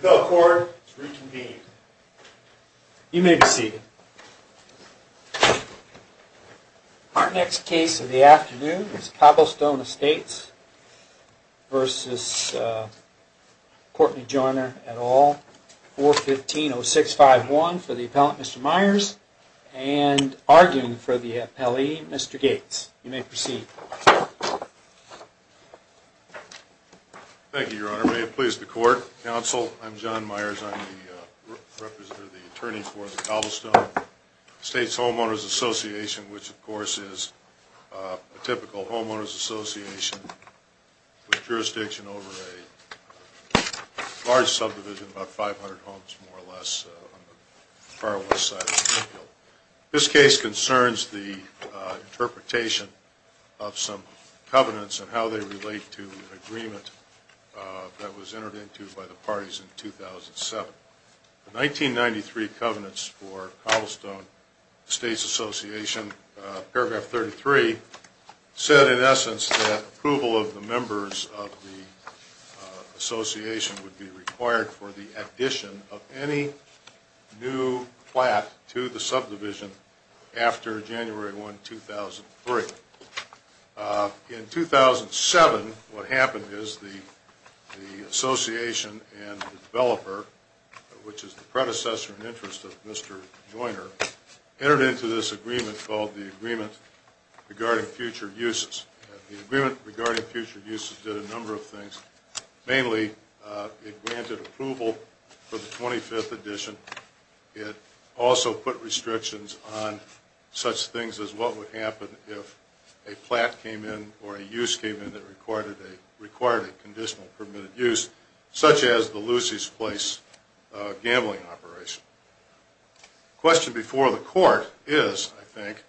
Court is reconvened. You may be seated. Our next case of the afternoon is Cobblestone Estates v. Courtney Joyner et al., 415-0651 for the Appellant, Mr. Myers, and arguing for the Appellee, Mr. Gates. You may proceed. Thank you, Your Honor. May it please the Court, Counsel, I'm John Myers. I'm the representative, the attorney for the Cobblestone Estates Homeowners' Association, which, of course, is a typical homeowners' association with jurisdiction over a large subdivision, about 500 homes, more or less, on the far west side of the field. This case concerns the interpretation of some covenants and how they relate to an agreement that was entered into by the parties in 2007. The 1993 covenants for Cobblestone Estates Association, paragraph 33, said, in essence, that approval of the members of the association would be required for the addition of any new flat to the subdivision after January 1, 2003. In 2007, what happened is the association and the developer, which is the predecessor in interest of Mr. Joyner, entered into this agreement called the Agreement Regarding Future Uses. The Agreement Regarding Future Uses did a number of things. Mainly, it granted approval for the 25th addition. It also put restrictions on such things as what would happen if a flat came in or a use came in that required a conditional permitted use, such as the Lucy's Place gambling operation. The question before the court is, I think,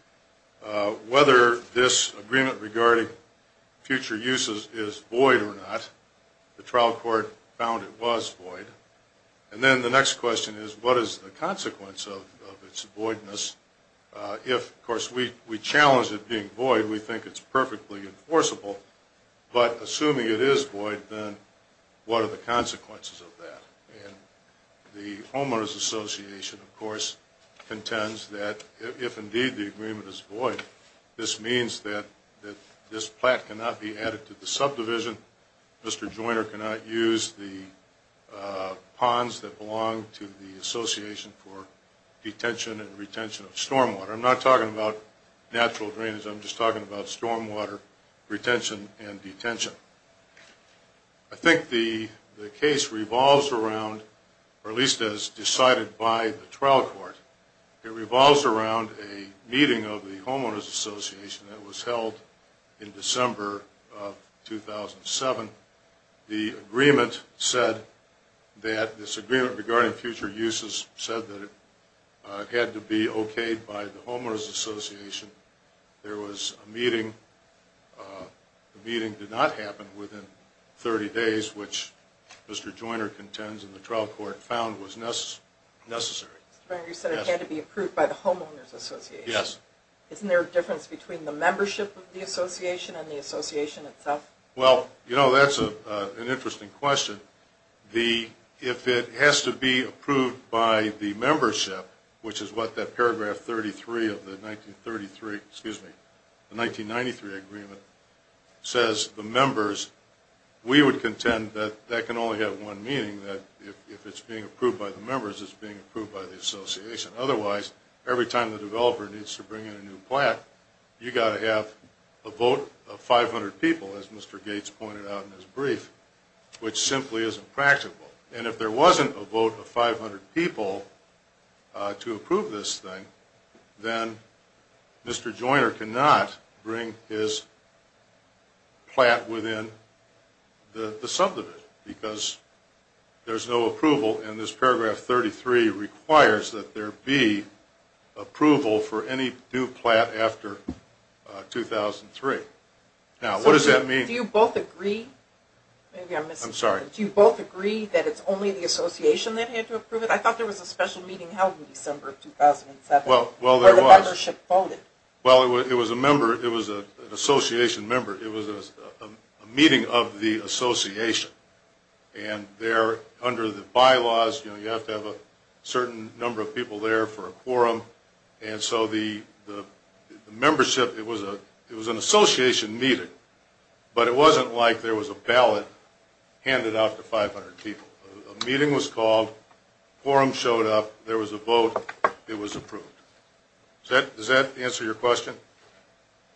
whether this Agreement Regarding Future Uses is void or not. The trial court found it was void. And then the next question is, what is the consequence of its voidness? If, of course, we challenge it being void, we think it's perfectly enforceable. But assuming it is void, then what are the consequences of that? And the homeowners association, of course, contends that if indeed the agreement is void, this means that this flat cannot be added to the subdivision. Mr. Joyner cannot use the ponds that belong to the Association for Detention and Retention of Stormwater. I'm not talking about natural drainage. I'm just talking about stormwater retention and detention. I think the case revolves around, or at least as decided by the trial court, it revolves around a meeting of the homeowners association that was held in December of 2007. The agreement said that this Agreement Regarding Future Uses said that it had to be okayed by the homeowners association. There was a meeting. The meeting did not happen within 30 days, which Mr. Joyner contends in the trial court found was necessary. Mr. Joyner, you said it had to be approved by the homeowners association. Yes. Isn't there a difference between the membership of the association and the association itself? Well, you know, that's an interesting question. If it has to be approved by the membership, which is what that paragraph 33 of the 1993 agreement says, the members, we would contend that that can only have one meaning, that if it's being approved by the members, it's being approved by the association. Otherwise, every time the developer needs to bring in a new plat, you've got to have a vote of 500 people, as Mr. Gates pointed out in his brief, which simply isn't practical. And if there wasn't a vote of 500 people to approve this thing, then Mr. Joyner cannot bring his plat within the subdivision, because there's no approval, and this paragraph 33 requires that there be approval for any new plat after 2003. Now, what does that mean? Do you both agree? I'm sorry. Do you both agree that it's only the association that had to approve it? I thought there was a special meeting held in December of 2007 where the membership voted. Well, it was an association member. It was a meeting of the association. And there, under the bylaws, you have to have a certain number of people there for a quorum. And so the membership, it was an association meeting, but it wasn't like there was a ballot handed out to 500 people. A meeting was called, quorum showed up, there was a vote, it was approved. Does that answer your question?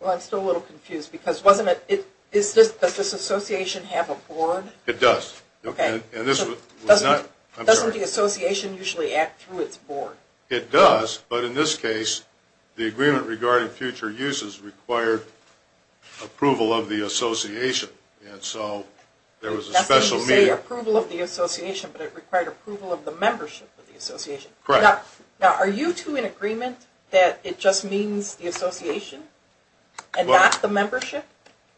Well, I'm still a little confused, because wasn't it, does this association have a board? It does. Okay. And this was not, I'm sorry. Doesn't the association usually act through its board? It does, but in this case, the agreement regarding future uses required approval of the association, and so there was a special meeting. It required the approval of the association, but it required approval of the membership of the association. Correct. Now, are you two in agreement that it just means the association and not the membership?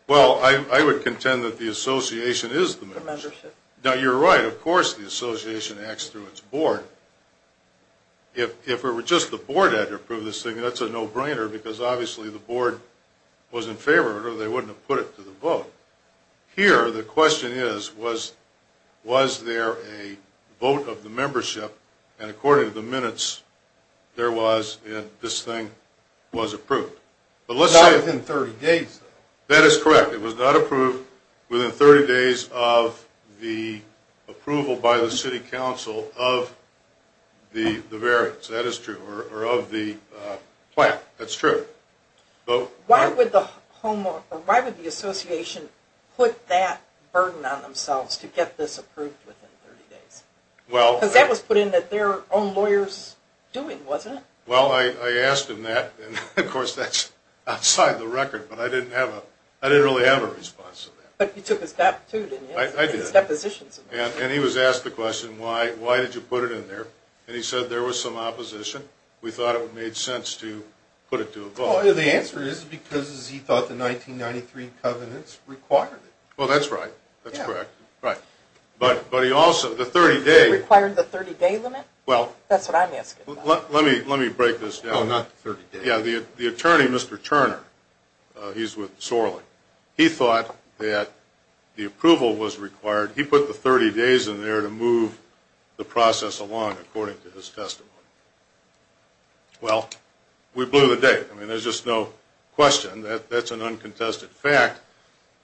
Well, I would contend that the association is the membership. The membership. Now, you're right. Of course the association acts through its board. If it were just the board that had to approve this thing, that's a no-brainer, because obviously the board was in favor of it or they wouldn't have put it to the vote. Here, the question is, was there a vote of the membership, and according to the minutes, there was, and this thing was approved. Not within 30 days, though. That is correct. It was not approved within 30 days of the approval by the city council of the variance, that is true, or of the plan. That's true. Why would the association put that burden on themselves to get this approved within 30 days? Because that was put in that their own lawyers were doing, wasn't it? Well, I asked them that, and of course that's outside the record, but I didn't really have a response to that. But you took a step, too, didn't you? I did, and he was asked the question, why did you put it in there? And he said there was some opposition. We thought it would make sense to put it to a vote. Well, the answer is because he thought the 1993 covenants required it. Well, that's right. That's correct. Yeah. Right. But he also, the 30-day... It required the 30-day limit? Well... That's what I'm asking about. Let me break this down. No, not the 30-day. Yeah, the attorney, Mr. Turner, he's with Sorley. He thought that the approval was required. He put the 30 days in there to move the process along according to his testimony. Well, we blew the date. I mean, there's just no question. That's an uncontested fact.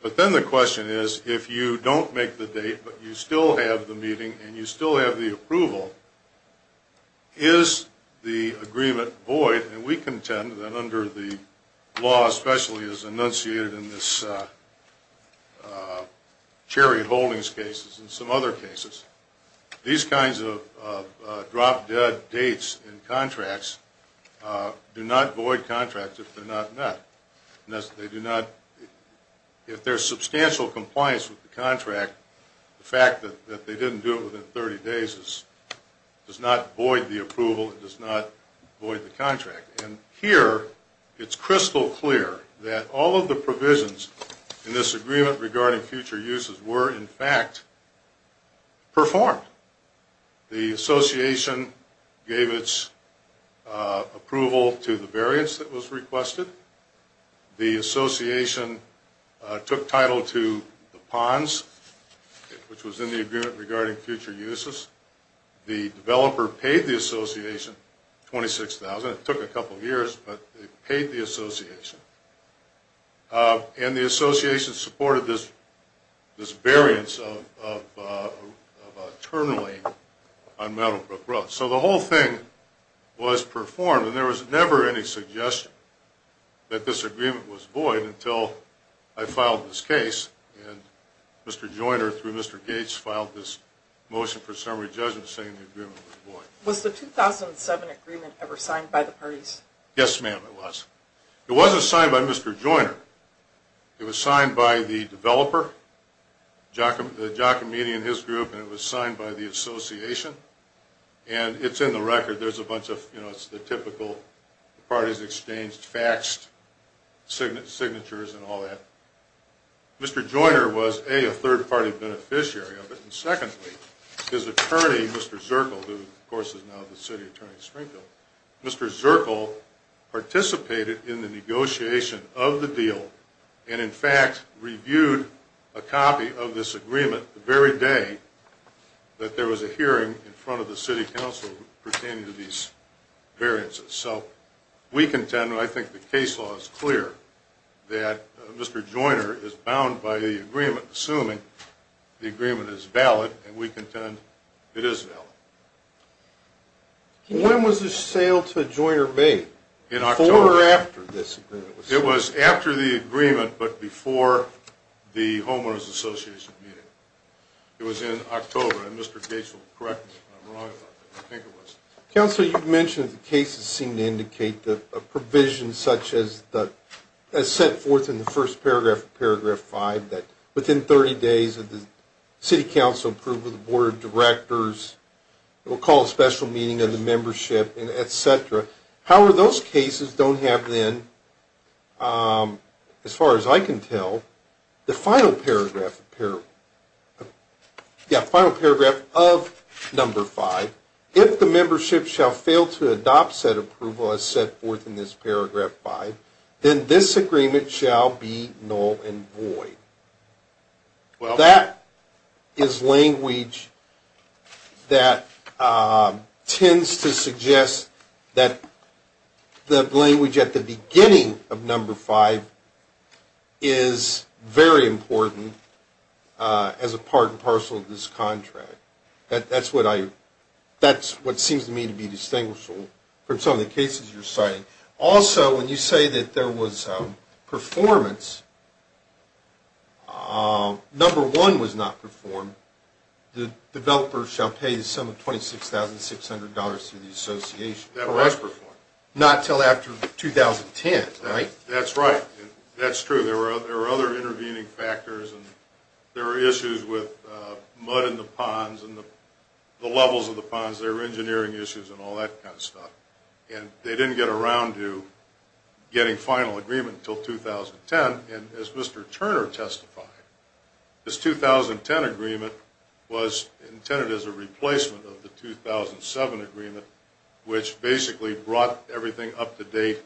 But then the question is, if you don't make the date, but you still have the meeting and you still have the approval, is the agreement void? And we contend that under the law, especially as enunciated in this Chariot Holdings cases and some other cases, these kinds of drop-dead dates in contracts do not void contracts if they're not met. They do not... If there's substantial compliance with the contract, the fact that they didn't do it within 30 days does not void the approval. It does not void the contract. And here, it's crystal clear that all of the provisions in this agreement regarding future uses were, in fact, performed. The association gave its approval to the variance that was requested. The association took title to the PONS, which was in the agreement regarding future uses. The developer paid the association $26,000. It took a couple of years, but they paid the association. And the association supported this variance of a terminally unmet approach. So the whole thing was performed. And there was never any suggestion that this agreement was void until I filed this case. And Mr. Joyner, through Mr. Gates, filed this motion for summary judgment saying the agreement was void. Was the 2007 agreement ever signed by the parties? Yes, ma'am, it was. It wasn't signed by Mr. Joyner. It was signed by the developer, Giacometti and his group, and it was signed by the association. And it's in the record. There's a bunch of, you know, it's the typical parties exchanged faxed signatures and all that. Mr. Joyner was, A, a third-party beneficiary of it. And secondly, his attorney, Mr. Zirkle, who, of course, is now the city attorney at Springfield, Mr. Zirkle participated in the negotiation of the deal and, in fact, reviewed a copy of this agreement the very day that there was a hearing in front of the city council pertaining to these variances. So we contend, and I think the case law is clear, that Mr. Joyner is bound by the agreement, assuming the agreement is valid, and we contend it is valid. When was the sale to Joyner made? In October. Before or after this agreement was signed? It was after the agreement but before the homeowners association meeting. It was in October. And Mr. Gates will correct me if I'm wrong. I think it was. Counsel, you've mentioned that the cases seem to indicate a provision such as set forth in the first paragraph of paragraph 5 that within 30 days of the city council approval of the board of directors, it will call a special meeting of the membership, et cetera. However, those cases don't have then, as far as I can tell, the final paragraph of number 5. If the membership shall fail to adopt said approval as set forth in this paragraph 5, then this agreement shall be null and void. That is language that tends to suggest that the language at the beginning of number 5 is very important as a part and parcel of this contract. That's what seems to me to be distinguishable from some of the cases you're citing. Also, when you say that there was performance, number 1 was not performed. The developer shall pay the sum of $26,600 to the association. That was performed. Not until after 2010, right? That's right. That's true. There were other intervening factors. There were issues with mud in the ponds and the levels of the ponds. There were engineering issues and all that kind of stuff. And they didn't get around to getting final agreement until 2010. And as Mr. Turner testified, this 2010 agreement was intended as a replacement of the 2007 agreement, which basically brought everything up to date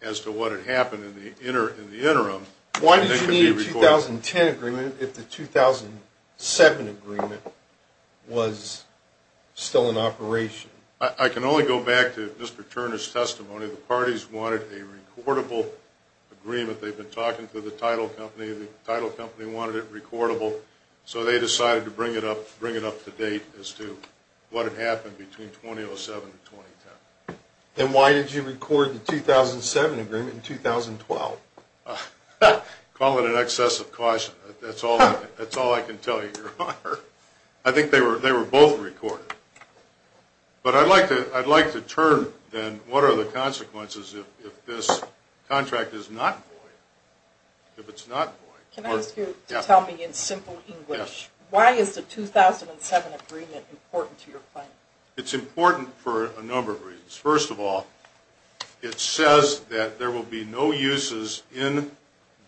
as to what had happened in the interim. Why did you need a 2010 agreement if the 2007 agreement was still in operation? I can only go back to Mr. Turner's testimony. The parties wanted a recordable agreement. They've been talking to the title company. The title company wanted it recordable. So they decided to bring it up to date as to what had happened between 2007 and 2010. Then why did you record the 2007 agreement in 2012? Call it an excess of caution. That's all I can tell you, Your Honor. I think they were both recorded. But I'd like to turn, then, what are the consequences if this contract is not void? If it's not void? Can I ask you to tell me in simple English, why is the 2007 agreement important to your plan? It's important for a number of reasons. First of all, it says that there will be no uses in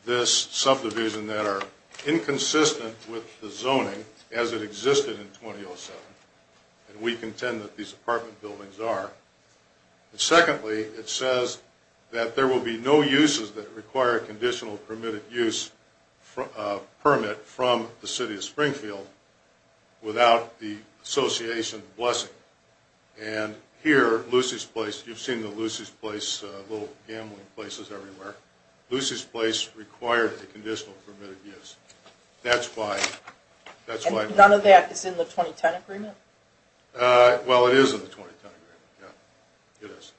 this subdivision that are inconsistent with the zoning as it existed in 2007. And we contend that these apartment buildings are. And secondly, it says that there will be no uses that require a conditional permitted use permit from the city of Springfield without the association of blessing. And here, Lucy's Place, you've seen the Lucy's Place little gambling places everywhere. Lucy's Place required a conditional permitted use. That's why. And none of that is in the 2010 agreement? Well, it is in the 2010 agreement, yeah. It is.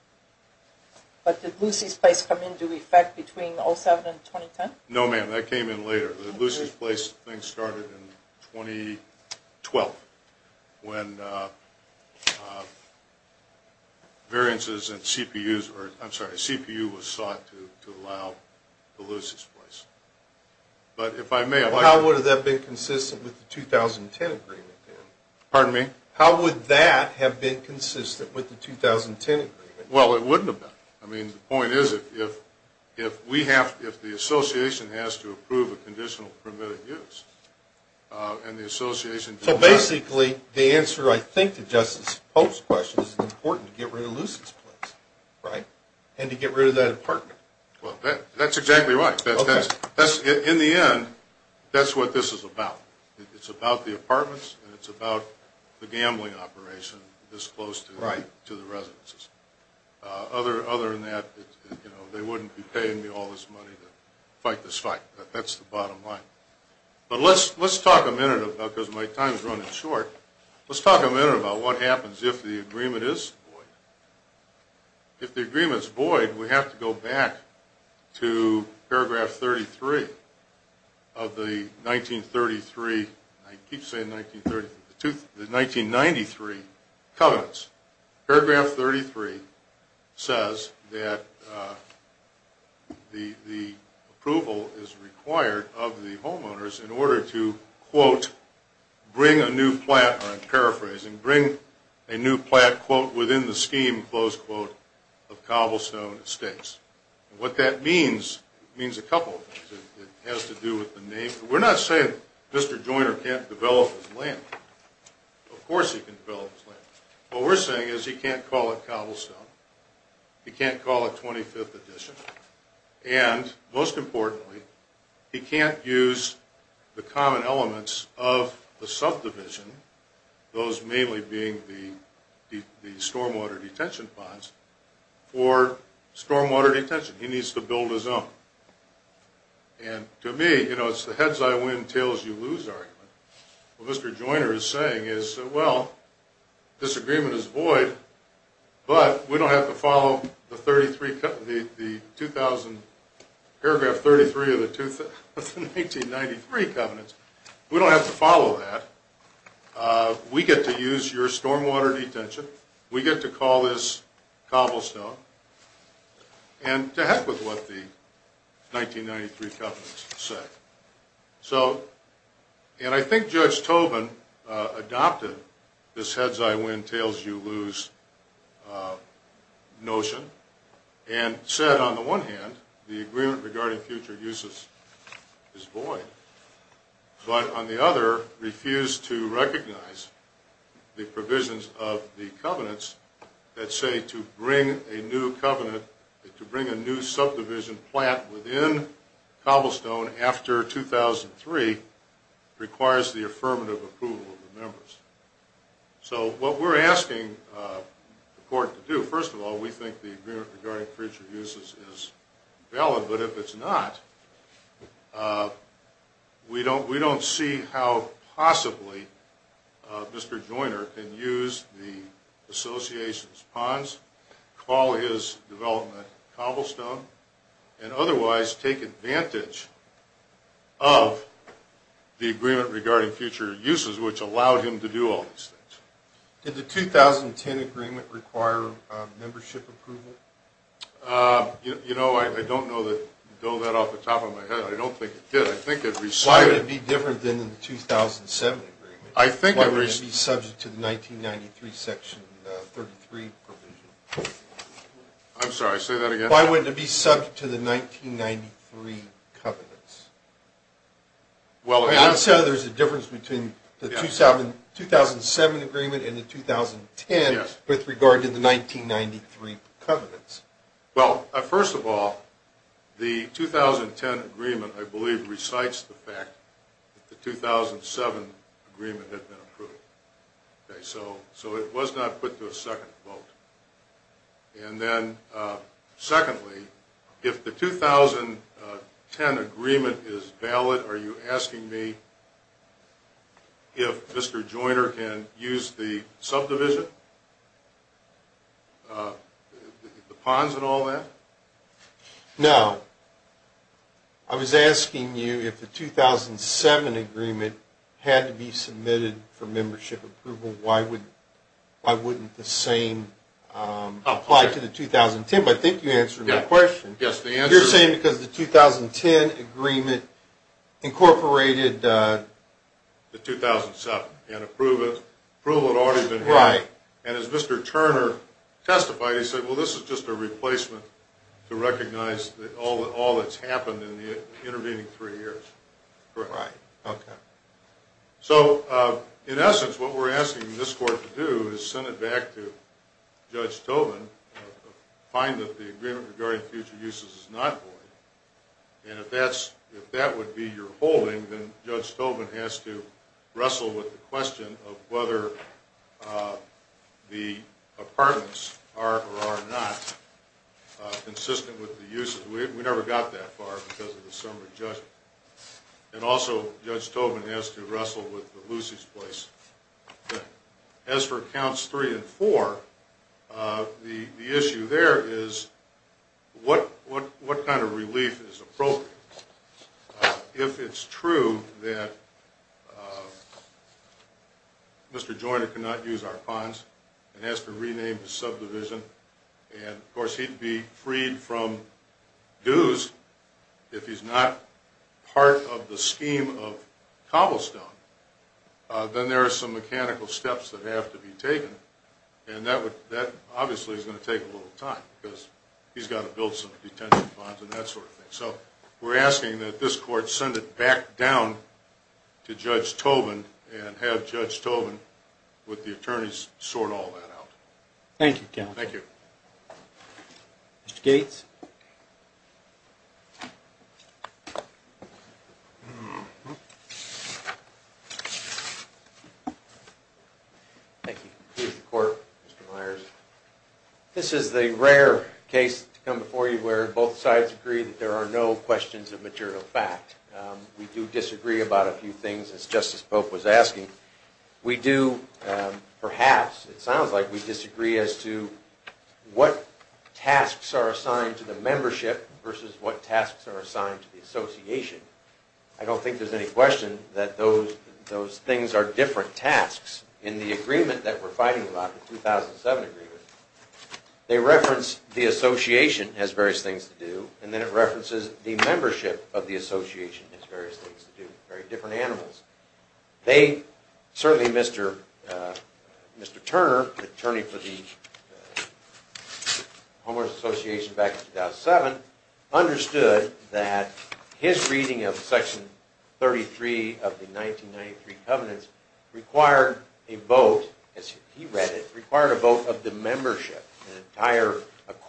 But did Lucy's Place come into effect between 2007 and 2010? No, ma'am. That came in later. Lucy's Place started in 2012. When variances in CPUs were, I'm sorry, CPU was sought to allow the Lucy's Place. But if I may, I'd like to. How would that have been consistent with the 2010 agreement, then? Pardon me? How would that have been consistent with the 2010 agreement? Well, it wouldn't have been. I mean, the point is, if we have, if the association has to approve a conditional permitted use, and the association. So basically, the answer, I think, to Justice Pope's question is it's important to get rid of Lucy's Place, right? And to get rid of that apartment. Well, that's exactly right. In the end, that's what this is about. It's about the apartments, and it's about the gambling operation this close to the residences. Other than that, they wouldn't be paying me all this money to fight this fight. That's the bottom line. But let's talk a minute about, because my time is running short, let's talk a minute about what happens if the agreement is void. If the agreement is void, we have to go back to paragraph 33 of the 1933, I keep saying 1933, the 1993 covenants. Paragraph 33 says that the approval is required of the homeowners in order to, quote, bring a new plant, or I'm paraphrasing, bring a new plant, quote, within the scheme, close quote, of Cobblestone Estates. And what that means, it means a couple of things. It has to do with the name. We're not saying Mr. Joyner can't develop his land. Of course he can develop his land. What we're saying is he can't call it Cobblestone. He can't call it 25th Edition. And most importantly, he can't use the common elements of the subdivision, those mainly being the stormwater detention ponds, for stormwater detention. He needs to build his own. And to me, you know, it's the heads I win, tails you lose argument. What Mr. Joyner is saying is, well, disagreement is void, but we don't have to follow the paragraph 33 of the 1993 covenants. We don't have to follow that. We get to use your stormwater detention. We get to call this Cobblestone. And to heck with what the 1993 covenants say. So, and I think Judge Tobin adopted this heads I win, tails you lose notion, and said on the one hand, the agreement regarding future uses is void. But on the other, refused to recognize the provisions of the covenants that say to bring a new covenant, to bring a new subdivision plant within Cobblestone after 2003 requires the affirmative approval of the members. So what we're asking the court to do, first of all, we think the agreement regarding future uses is valid. But if it's not, we don't see how possibly Mr. Joyner can use the association's ponds, call his development Cobblestone, and otherwise take advantage of the agreement regarding future uses, which allowed him to do all these things. Did the 2010 agreement require membership approval? You know, I don't know that, throw that off the top of my head. I don't think it did. I think it recited. Why would it be different than the 2007 agreement? Why would it be subject to the 1993 section 33 provision? I'm sorry, say that again. Why would it be subject to the 1993 covenants? I'm saying there's a difference between the 2007 agreement and the 2010 with regard to the 1993 covenants. Well, first of all, the 2010 agreement, I believe, recites the fact that the 2007 agreement had been approved. So it was not put to a second vote. And then secondly, if the 2010 agreement is valid, are you asking me if Mr. Joyner can use the subdivision, the ponds and all that? No. I was asking you if the 2007 agreement had to be submitted for membership approval, why wouldn't the same apply to the 2010? I think you answered my question. Yes, the answer is. You're saying because the 2010 agreement incorporated the 2007 and approval had already been made. Right. And as Mr. Turner testified, he said, well, this is just a replacement to recognize all that's happened in the intervening three years. Right. Okay. So in essence, what we're asking this court to do is send it back to Judge Tobin, find that the agreement regarding future uses is not void, and if that would be your holding, then Judge Tobin has to wrestle with the question of whether the apartments are or are not consistent with the uses. We never got that far because of the summary judgment. And also, Judge Tobin has to wrestle with the Lucy's Place. As for counts three and four, the issue there is what kind of relief is appropriate. If it's true that Mr. Joyner cannot use our ponds and has to rename the subdivision, and, of course, he'd be freed from dues if he's not part of the scheme of cobblestone, then there are some mechanical steps that have to be taken, and that obviously is going to take a little time because he's got to build some detention ponds and that sort of thing. So we're asking that this court send it back down to Judge Tobin and have Judge Tobin, with the attorneys, sort all that out. Thank you, counsel. Thank you. Mr. Gates? Thank you. Here's the court, Mr. Myers. This is the rare case to come before you where both sides agree that there are no questions of material fact. We do disagree about a few things, as Justice Pope was asking. We do, perhaps, it sounds like we disagree as to what tasks are assigned to the membership versus what tasks are assigned to the association. I don't think there's any question that those things are different tasks. In the agreement that we're fighting about, the 2007 agreement, they reference the association has various things to do, and then it references the membership of the association has various things to do, very different animals. They, certainly Mr. Turner, the attorney for the Homeless Association back in 2007, understood that his reading of Section 33 of the 1993 Covenants required a vote, as he read it, required a vote of the membership, an entire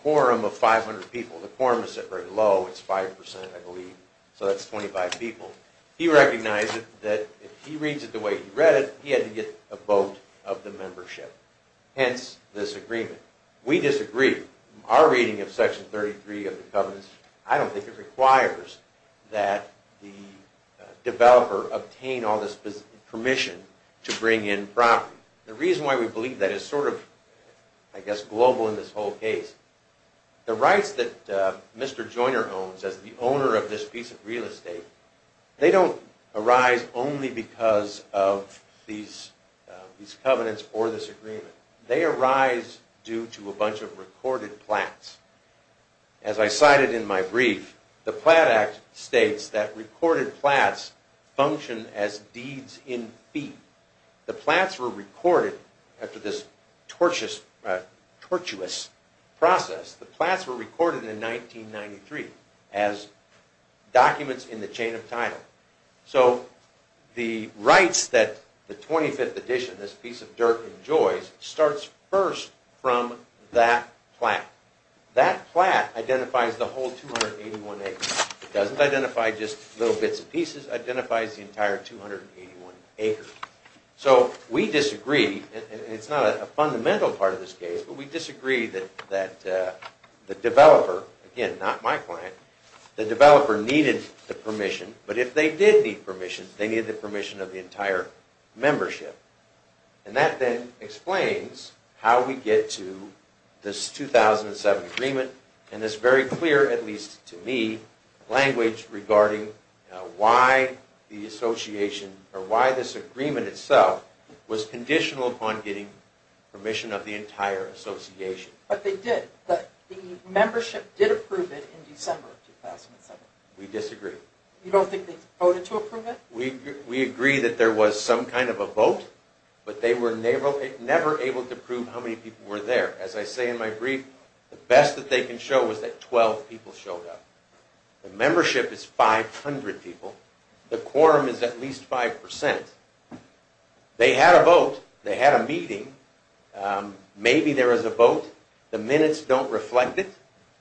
quorum of 500 people. The quorum is set very low, it's 5%, I believe, so that's 25 people. He recognized that if he reads it the way he read it, he had to get a vote of the membership. Hence, this agreement. We disagree. Our reading of Section 33 of the Covenants, I don't think it requires that the developer obtain all this permission to bring in property. The reason why we believe that is sort of, I guess, global in this whole case. The rights that Mr. Joyner owns as the owner of this piece of real estate, they don't arise only because of these covenants or this agreement. They arise due to a bunch of recorded plats. As I cited in my brief, the Plat Act states that recorded plats function as deeds in fee. The plats were recorded after this tortuous process. The plats were recorded in 1993 as documents in the chain of title. The rights that the 25th edition, this piece of dirt, enjoys starts first from that plat. That plat identifies the whole 281 acres. It doesn't identify just little bits and pieces, it identifies the entire 281 acres. We disagree, and it's not a fundamental part of this case, but we disagree that the developer, again, not my client, the developer needed the permission, but if they did need permission, they needed the permission of the entire membership. That then explains how we get to this 2007 agreement, and it's very clear, at least to me, language regarding why this agreement itself was conditional upon getting permission of the entire association. But they did. The membership did approve it in December of 2007. We disagree. You don't think they voted to approve it? We agree that there was some kind of a vote, but they were never able to prove how many people were there. As I say in my brief, the best that they can show is that 12 people showed up. The membership is 500 people. The quorum is at least 5%. They had a vote. They had a meeting. Maybe there was a vote. The minutes don't reflect it.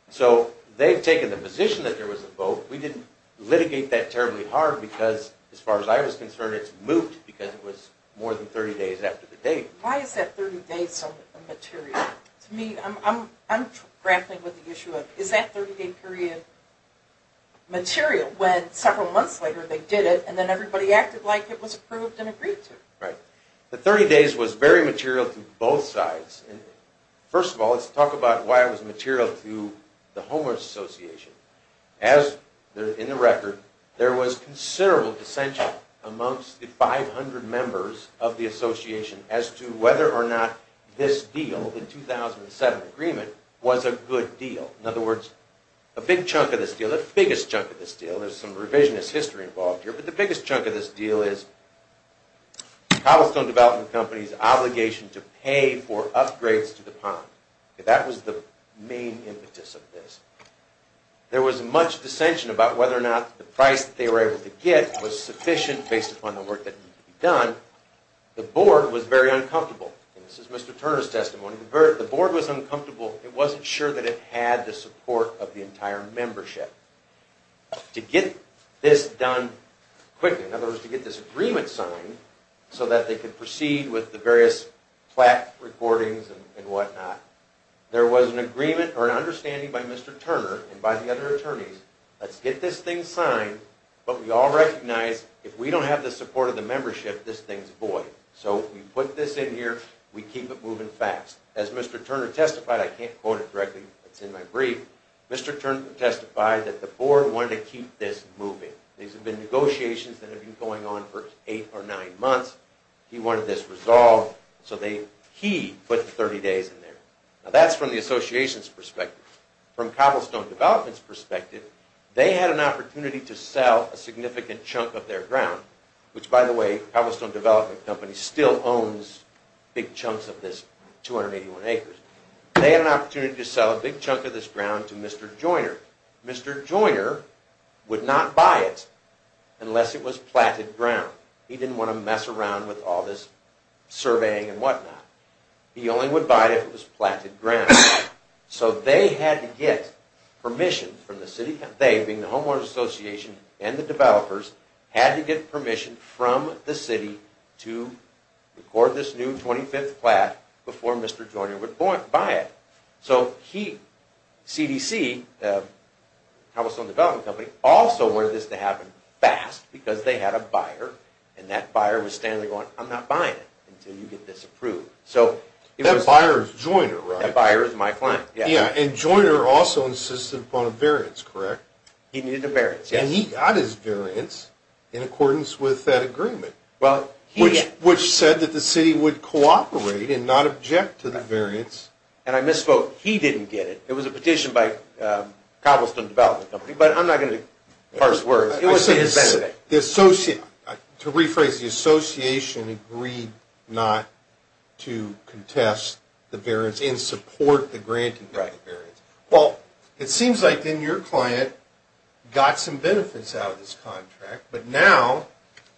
So they've taken the position that there was a vote. We didn't litigate that terribly hard because, as far as I was concerned, it's moot because it was more than 30 days after the date. Why is that 30 days so immaterial? To me, I'm grappling with the issue of is that 30-day period material when several months later they did it and then everybody acted like it was approved and agreed to? The 30 days was very material to both sides. First of all, let's talk about why it was material to the Homeowners Association. As in the record, there was considerable dissension amongst the 500 members of the Association as to whether or not this deal, the 2007 agreement, was a good deal. In other words, a big chunk of this deal, the biggest chunk of this deal, there's some revisionist history involved here, but the biggest chunk of this deal is Cobblestone Development Company's obligation to pay for upgrades to the pond. That was the main impetus of this. There was much dissension about whether or not the price they were able to get was sufficient based upon the work that needed to be done. The board was very uncomfortable. This is Mr. Turner's testimony. The board was uncomfortable. It wasn't sure that it had the support of the entire membership. To get this done quickly, in other words, to get this agreement signed so that they could proceed with the various plaque recordings and whatnot, there was an agreement or an understanding by Mr. Turner and by the other attorneys, let's get this thing signed, but we all recognize if we don't have the support of the membership, this thing's void. So we put this in here, we keep it moving fast. As Mr. Turner testified, I can't quote it directly, it's in my brief, Mr. Turner testified that the board wanted to keep this moving. These had been negotiations that had been going on for eight or nine months. He wanted this resolved, so he put 30 days in there. Now that's from the association's perspective. From Cobblestone Development's perspective, they had an opportunity to sell a significant chunk of their ground, which, by the way, Cobblestone Development Company still owns big chunks of this 281 acres. They had an opportunity to sell a big chunk of this ground to Mr. Joyner. Mr. Joyner would not buy it unless it was platted ground. He didn't want to mess around with all this surveying and whatnot. He only would buy it if it was platted ground. So they had to get permission from the city, they being the homeowners association and the developers, had to get permission from the city to record this new 25th plaque before Mr. Joyner would buy it. So he, CDC, Cobblestone Development Company, also wanted this to happen fast because they had a buyer, and that buyer was standing there going, I'm not buying it until you get this approved. That buyer is Joyner, right? That buyer is my client, yes. And Joyner also insisted upon a variance, correct? And he got his variance in accordance with that agreement, which said that the city would cooperate and not object to the variance. And I misspoke. He didn't get it. It was a petition by Cobblestone Development Company, but I'm not going to parse words. To rephrase, the association agreed not to contest the variance and support the granting of the variance. Well, it seems like then your client got some benefits out of this contract, but now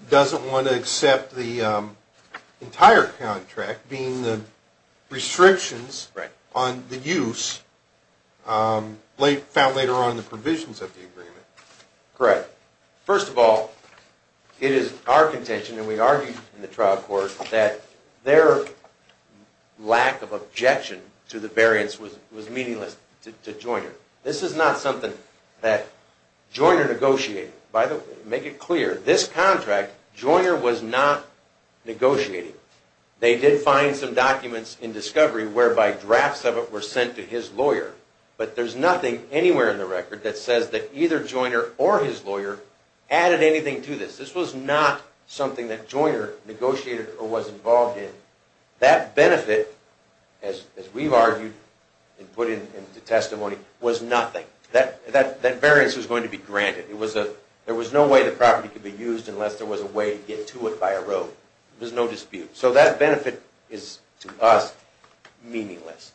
doesn't want to accept the entire contract, being the restrictions on the use found later on in the provisions of the agreement. Correct. First of all, it is our contention, and we argued in the trial court, that their lack of objection to the variance was meaningless to Joyner. This is not something that Joyner negotiated. By the way, to make it clear, this contract Joyner was not negotiating. They did find some documents in discovery whereby drafts of it were sent to his lawyer, but there's nothing anywhere in the record that says that either Joyner or his lawyer added anything to this. This was not something that Joyner negotiated or was involved in. That benefit, as we've argued and put into testimony, was nothing. That variance was going to be granted. There was no way the property could be used unless there was a way to get to it by a road. There's no dispute. So that benefit is, to us, meaningless.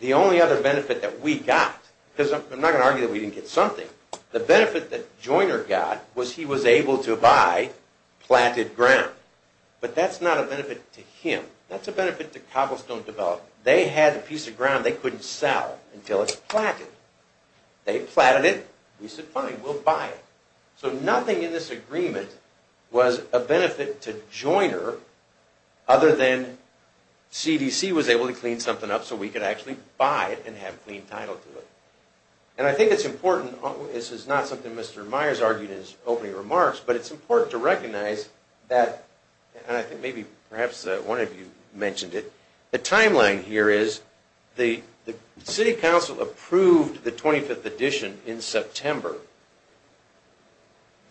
The only other benefit that we got, because I'm not going to argue that we didn't get something, the benefit that Joyner got was he was able to buy platted ground. But that's not a benefit to him. That's a benefit to Cobblestone Development. They had a piece of ground they couldn't sell until it's platted. They platted it. We said, fine, we'll buy it. So nothing in this agreement was a benefit to Joyner other than CDC was able to clean something up so we could actually buy it and have clean title to it. And I think it's important. This is not something Mr. Myers argued in his opening remarks, but it's important to recognize that, and I think maybe perhaps one of you mentioned it, the timeline here is the City Council approved the 25th edition in September.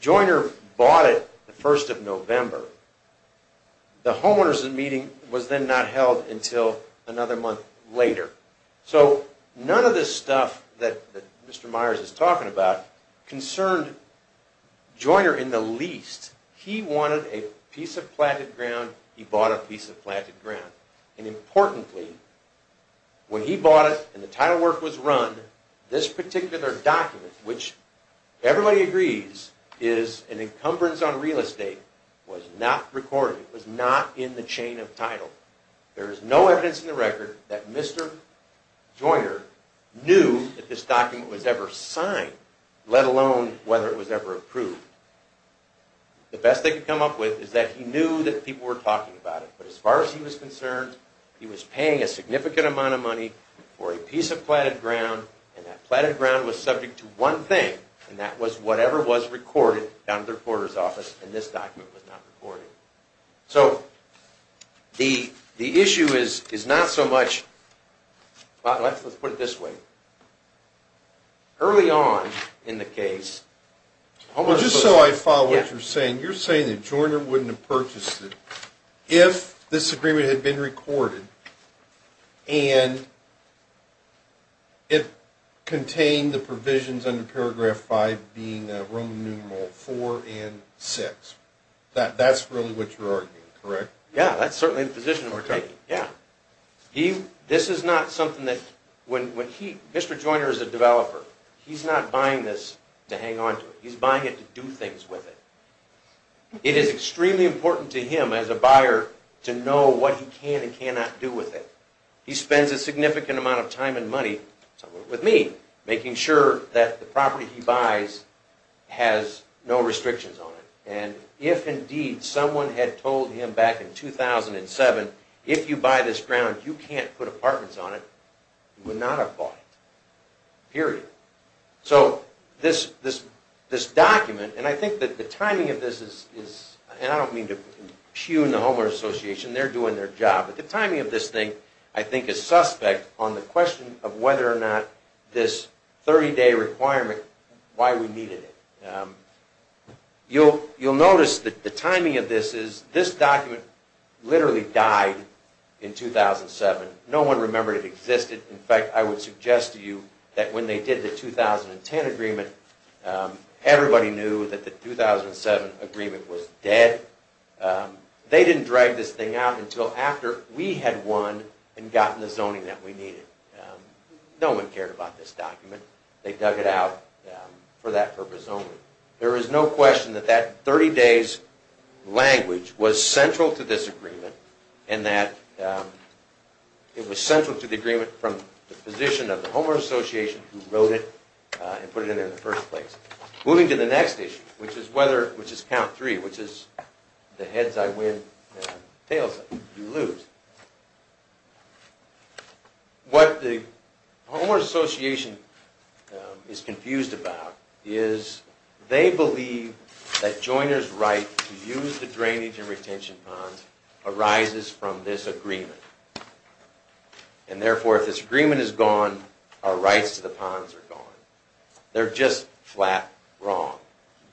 Joyner bought it the 1st of November. The homeowners' meeting was then not held until another month later. So none of this stuff that Mr. Myers is talking about concerned Joyner in the least. He wanted a piece of platted ground. He bought a piece of platted ground. And importantly, when he bought it and the title work was run, this particular document, which everybody agrees is an encumbrance on real estate, was not recorded. It was not in the chain of title. There is no evidence in the record that Mr. Joyner knew that this document was ever signed, let alone whether it was ever approved. The best they could come up with is that he knew that people were talking about it. But as far as he was concerned, he was paying a significant amount of money for a piece of platted ground, and that platted ground was subject to one thing, and that was whatever was recorded down at the reporter's office, and this document was not recorded. So the issue is not so much... Let's put it this way. Early on in the case... Well, just so I follow what you're saying, you're saying that Joyner wouldn't have purchased it if this agreement had been recorded and it contained the provisions under paragraph 5 being Roman numeral 4 and 6. That's really what you're arguing, correct? Yeah, that's certainly the position we're taking. This is not something that... Mr. Joyner is a developer. He's not buying this to hang on to. He's buying it to do things with it. It is extremely important to him as a buyer to know what he can and cannot do with it. He spends a significant amount of time and money, with me, making sure that the property he buys has no restrictions on it. And if, indeed, someone had told him back in 2007, if you buy this ground, you can't put apartments on it, he would not have bought it. Period. So this document, and I think that the timing of this is... And I don't mean to pew in the Homeowner's Association. They're doing their job. But the timing of this thing, I think, is suspect on the question of whether or not this 30-day requirement, why we needed it. You'll notice that the timing of this is... This document literally died in 2007. No one remembered it existed. In fact, I would suggest to you that when they did the 2010 agreement, everybody knew that the 2007 agreement was dead. They didn't drag this thing out until after we had won and gotten the zoning that we needed. No one cared about this document. They dug it out for that purpose only. There is no question that that 30-days language was central to this agreement and that it was central to the agreement from the position of the Homeowner's Association who wrote it and put it in there in the first place. Moving to the next issue, which is count three, which is the heads I win, tails I lose. What the Homeowner's Association is confused about is they believe that joiners' right to use the drainage and retention ponds arises from this agreement. And therefore, if this agreement is gone, our rights to the ponds are gone. They're just flat wrong.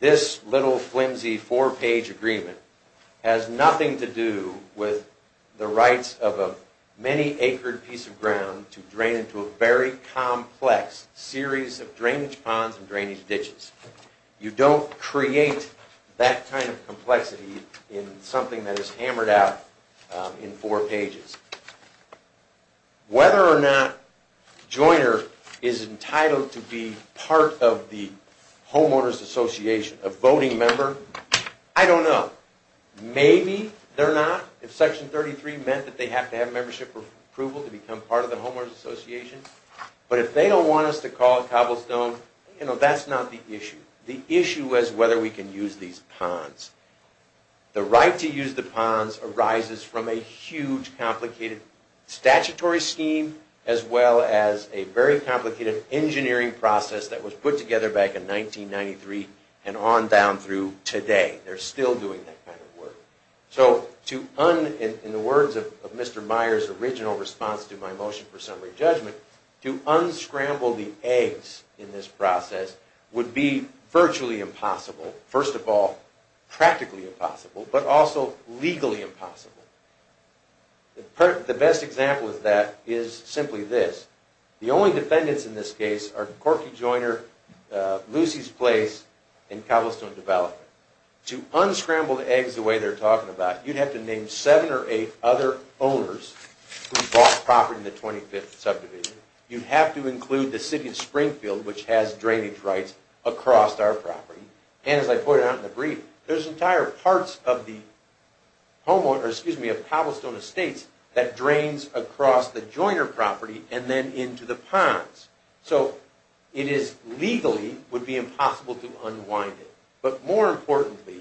This little, flimsy, four-page agreement has nothing to do with the rights of a many-acre piece of ground to drain into a very complex series of drainage ponds and drainage ditches. You don't create that kind of complexity in something that is hammered out in four pages. Whether or not a joiner is entitled to be part of the Homeowner's Association, a voting member, I don't know. Maybe they're not, if Section 33 meant that they have to have membership approval to become part of the Homeowner's Association. But if they don't want us to call a cobblestone, that's not the issue. The issue is whether we can use these ponds. The right to use the ponds arises from a huge, complicated statutory scheme as well as a very complicated engineering process that was put together back in 1993 and on down through today. They're still doing that kind of work. In the words of Mr. Meyer's original response to my motion for summary judgment, to unscramble the eggs in this process would be virtually impossible. First of all, practically impossible, but also legally impossible. The best example of that is simply this. The only defendants in this case are Corky Joiner, Lucy's Place, and Cobblestone Development. To unscramble the eggs the way they're talking about, you'd have to name seven or eight other owners who bought property in the 25th subdivision. You'd have to include the city of Springfield, which has drainage rights across our property. And as I pointed out in the brief, there's entire parts of the cobblestone estates that drains across the Joiner property and then into the ponds. So it is legally, would be impossible to unwind it. But more importantly,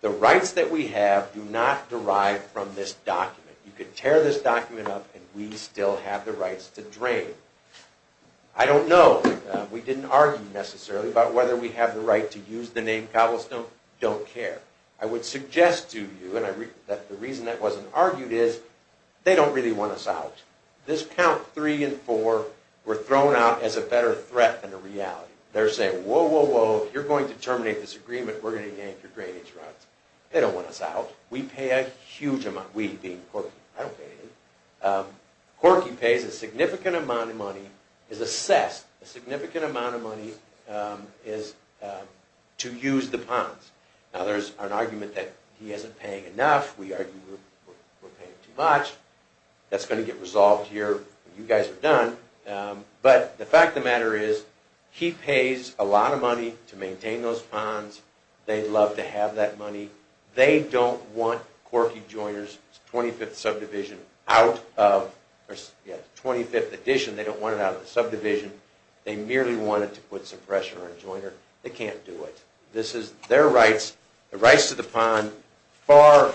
the rights that we have do not derive from this document. You could tear this document up and we'd still have the rights to drain. I don't know, we didn't argue necessarily about whether we have the right to use the name Cobblestone. I don't care. I would suggest to you, and the reason that wasn't argued is, they don't really want us out. This count three and four were thrown out as a better threat than a reality. They're saying, whoa, whoa, whoa, you're going to terminate this agreement. We're going to gain your drainage rights. They don't want us out. We pay a huge amount, we being Corky. I don't pay anything. The argument is to use the ponds. Now there's an argument that he isn't paying enough. We argue we're paying too much. That's going to get resolved here when you guys are done. But the fact of the matter is, he pays a lot of money to maintain those ponds. They'd love to have that money. They don't want Corky Joiner's 25th subdivision out of, or 25th addition, they don't want it out of the subdivision. They merely wanted to put some pressure on Joiner. They can't do it. This is their rights, the rights to the pond, far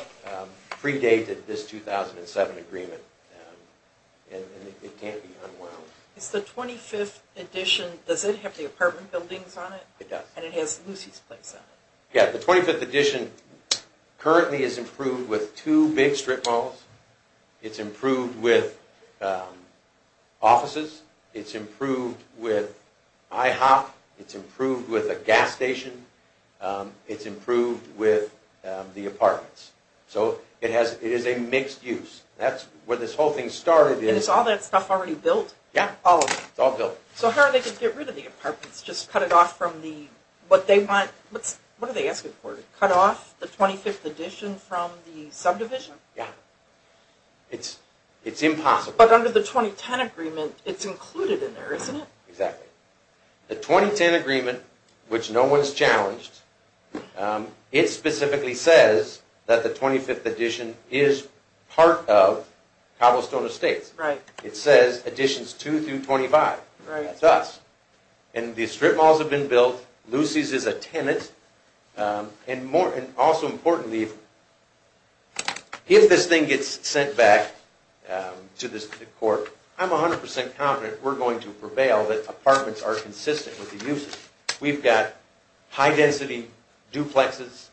predated this 2007 agreement. And it can't be unwound. It's the 25th addition. Does it have the apartment buildings on it? It does. And it has Lucy's place on it. Yeah, the 25th addition currently is improved with two big strip malls. It's improved with offices. It's improved with IHOP. It's improved with a gas station. It's improved with the apartments. So it is a mixed use. That's where this whole thing started. And is all that stuff already built? Yeah, it's all built. So how are they going to get rid of the apartments? Just cut it off from what they want? What are they asking for? To cut off the 25th addition from the subdivision? Yeah. It's impossible. But under the 2010 agreement, it's included in there, isn't it? Exactly. The 2010 agreement, which no one's challenged, it specifically says that the 25th addition is part of Cobblestone Estates. It says additions 2 through 25. That's us. And the strip malls have been built. Lucy's is a tenant. And also importantly, if this thing gets sent back to the court, I'm 100% confident we're going to prevail that apartments are consistent with the uses. We've got high-density duplexes.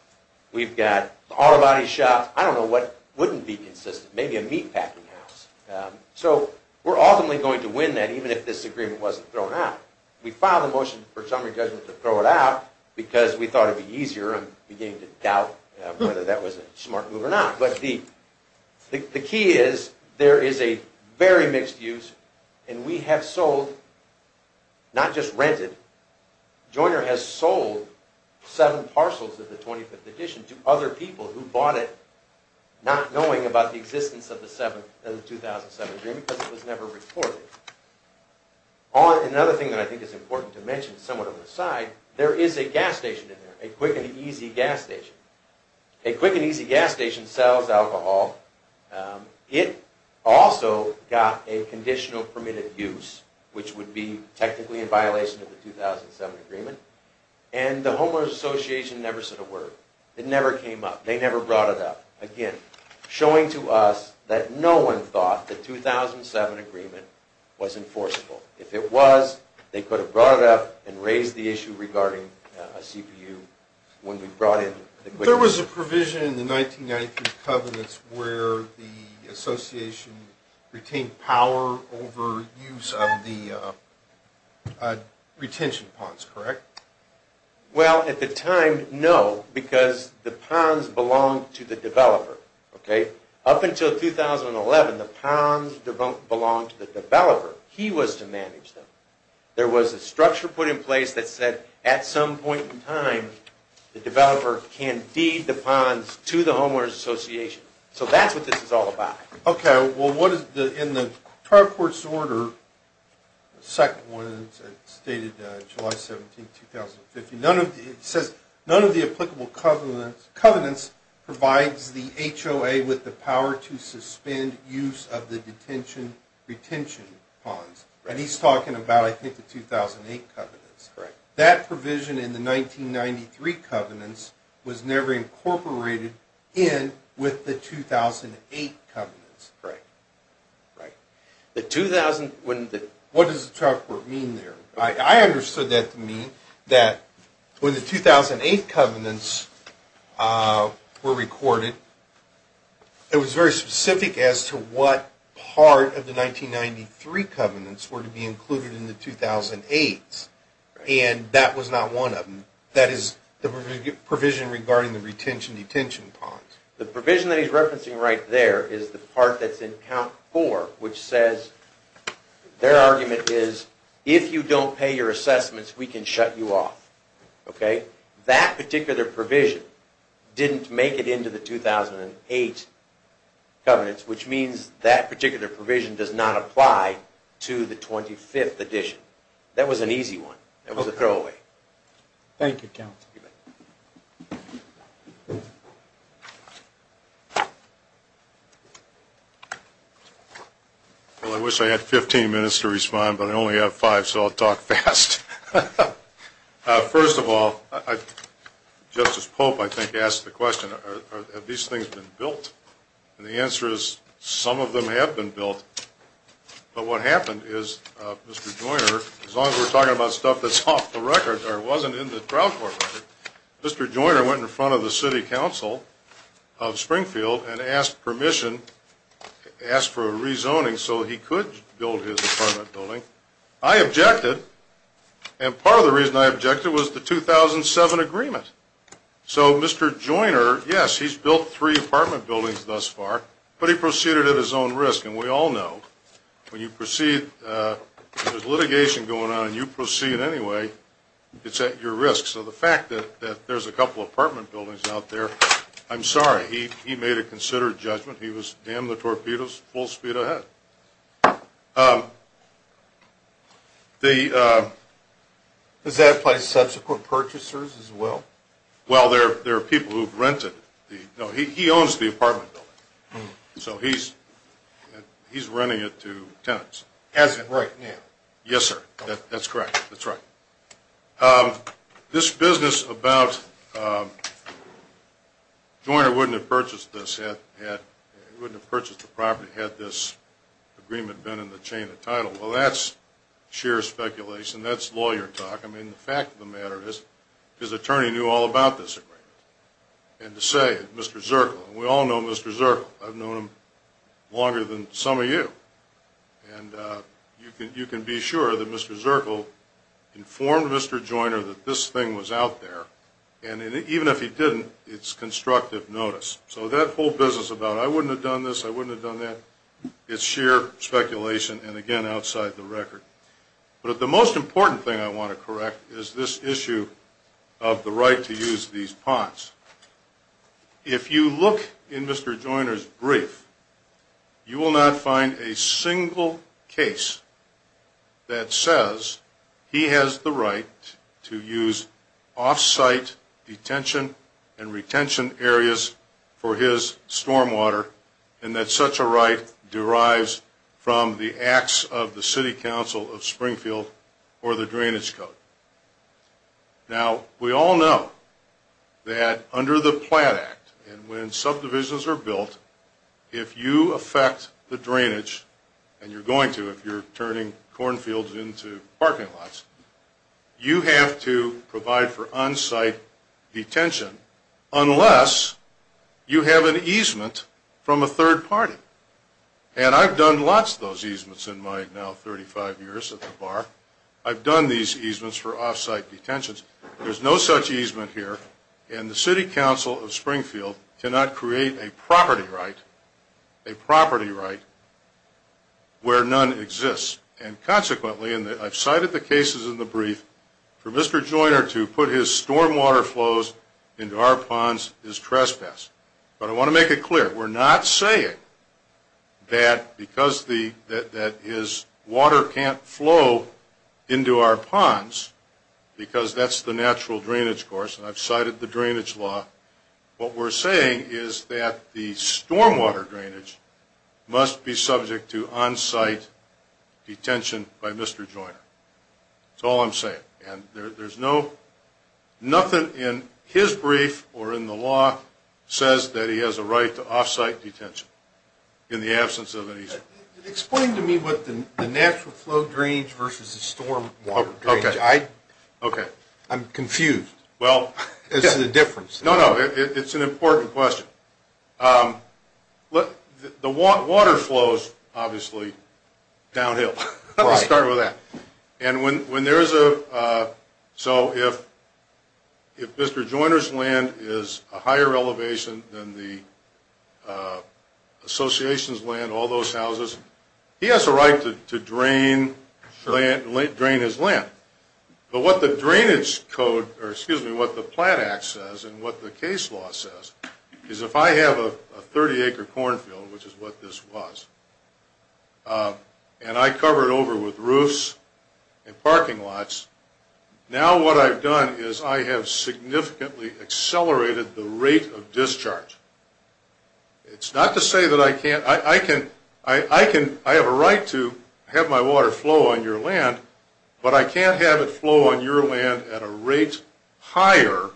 We've got auto body shops. I don't know what wouldn't be consistent. Maybe a meatpacking house. So we're ultimately going to win that even if this agreement wasn't thrown out. We filed a motion for summary judgment to throw it out because we thought it would be easier. I'm beginning to doubt whether that was a smart move or not. But the key is there is a very mixed use, and we have sold, not just rented, Joyner has sold seven parcels of the 25th addition to other people who bought it not knowing about the existence of the 2007 agreement because it was never reported. Another thing that I think is important to mention, somewhat of an aside, there is a gas station in there, a quick and easy gas station. A quick and easy gas station sells alcohol. It also got a conditional permitted use, which would be technically in violation of the 2007 agreement. And the Homeowners Association never said a word. It never came up. They never brought it up. Again, showing to us that no one thought the 2007 agreement was enforceable. If it was, they could have brought it up and raised the issue regarding a CPU when we brought in the quick and easy. There was a provision in the 1993 covenants where the association retained power over use of the retention ponds, correct? Well, at the time, no, because the ponds belonged to the developer. Up until 2011, the ponds belonged to the developer. He was to manage them. There was a structure put in place that said at some point in time, the developer can deed the ponds to the Homeowners Association. So that's what this is all about. Okay, well, what is in the trial court's order, the second one that's stated July 17, 2015, it says none of the applicable covenants provides the HOA with the power to suspend use of the detention retention ponds. And he's talking about, I think, the 2008 covenants. That provision in the 1993 covenants was never incorporated in with the 2008 covenants. Right. What does the trial court mean there? I understood that to mean that when the 2008 covenants were recorded, it was very specific as to what part of the 1993 covenants were to be included in the 2008s. And that was not one of them. That is the provision regarding the retention detention ponds. The provision that he's referencing right there is the part that's in count 4, which says their argument is if you don't pay your assessments, we can shut you off. That particular provision didn't make it into the 2008 covenants, which means that particular provision does not apply to the 25th edition. That was an easy one. That was a throwaway. Thank you, counsel. Well, I wish I had 15 minutes to respond, but I only have five, so I'll talk fast. First of all, Justice Pope, I think, asked the question, have these things been built? And the answer is some of them have been built. But what happened is Mr. Joyner, as long as we're talking about stuff that's off the record or wasn't in the trial court record, Mr. Joyner went in front of the city council of Springfield and asked permission, asked for a rezoning so he could build his apartment building. I objected, and part of the reason I objected was the 2007 agreement. So Mr. Joyner, yes, he's built three apartment buildings thus far, but he proceeded at his own risk. And we all know when you proceed, if there's litigation going on and you proceed anyway, it's at your risk. So the fact that there's a couple apartment buildings out there, I'm sorry. He made a considered judgment. He was in the torpedoes full speed ahead. Does that apply to subsequent purchasers as well? Well, there are people who've rented. No, he owns the apartment building. So he's renting it to tenants. As of right now? Yes, sir. That's correct. That's right. This business about Joyner wouldn't have purchased the property had this agreement been in the chain of title, well, that's sheer speculation. That's lawyer talk. I mean, the fact of the matter is his attorney knew all about this agreement. And to say, Mr. Zirkle, we all know Mr. Zirkle. I've known him longer than some of you. And you can be sure that Mr. Zirkle informed Mr. Joyner that this thing was out there. And even if he didn't, it's constructive notice. So that whole business about I wouldn't have done this, I wouldn't have done that, it's sheer speculation and, again, outside the record. But the most important thing I want to correct is this issue of the right to use these ponds. If you look in Mr. Joyner's brief, you will not find a single case that says he has the right to use off-site detention and retention areas for his stormwater and that such a right derives from the acts of the City Council of Springfield or the drainage code. Now, we all know that under the Platt Act, and when subdivisions are built, if you affect the drainage, and you're going to if you're turning cornfields into parking lots, you have to provide for on-site detention unless you have an easement from a third party. And I've done lots of those easements in my now 35 years at the bar. I've done these easements for off-site detentions. There's no such easement here, and the City Council of Springfield cannot create a property right where none exists. And consequently, and I've cited the cases in the brief, for Mr. Joyner to put his stormwater flows into our ponds is trespass. But I want to make it clear, we're not saying that because his water can't flow into our ponds, because that's the natural drainage course, and I've cited the drainage law, what we're saying is that the stormwater drainage must be subject to on-site detention by Mr. Joyner. That's all I'm saying. And there's no, nothing in his brief or in the law says that he has a right to off-site detention in the absence of an easement. Explain to me what the natural flow drainage versus the stormwater drainage. I'm confused as to the difference. No, no, it's an important question. The water flows, obviously, downhill. Let me start with that. And when there's a, so if Mr. Joyner's land is a higher elevation than the association's land, all those houses, he has a right to drain his land. But what the drainage code, or excuse me, what the Plant Act says, and what the case law says is if I have a 30-acre cornfield, which is what this was, and I cover it over with roofs and parking lots, now what I've done is I have significantly accelerated the rate of discharge. It's not to say that I can't, I can, I have a right to have my water flow on your land, but I can't have it flow on your land at a rate higher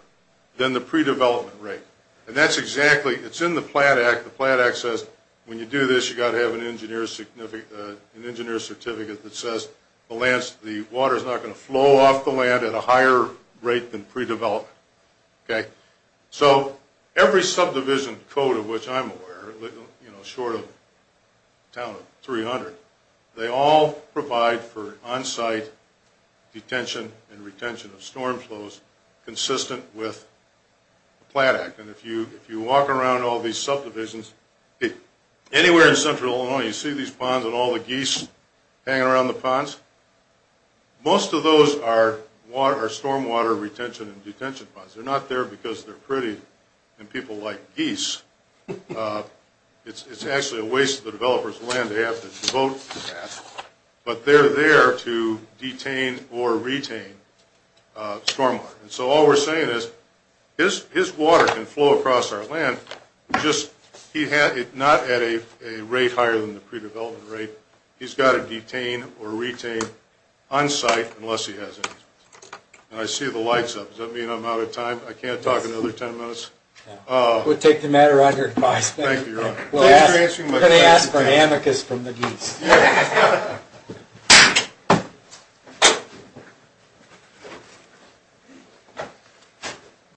than the pre-development rate. And that's exactly, it's in the Plant Act. The Plant Act says when you do this, you've got to have an engineer's certificate that says the water's not going to flow off the land at a higher rate than pre-development. Okay? So every subdivision code of which I'm aware, short of a town of 300, they all provide for on-site detention and retention of storm flows consistent with the Plant Act. And if you walk around all these subdivisions, anywhere in central Illinois, you see these ponds and all the geese hanging around the ponds? Most of those are stormwater retention and detention ponds. They're not there because they're pretty and people like geese. It's actually a waste of the developer's land to have to devote to that. But they're there to detain or retain stormwater. And so all we're saying is his water can flow across our land, just not at a rate higher than the pre-development rate. He's got to detain or retain on-site unless he has any. And I see the lights up. Does that mean I'm out of time? I can't talk another 10 minutes? We'll take the matter under advice. Thank you, Your Honor. We're going to ask for amicus from the geese. Yes.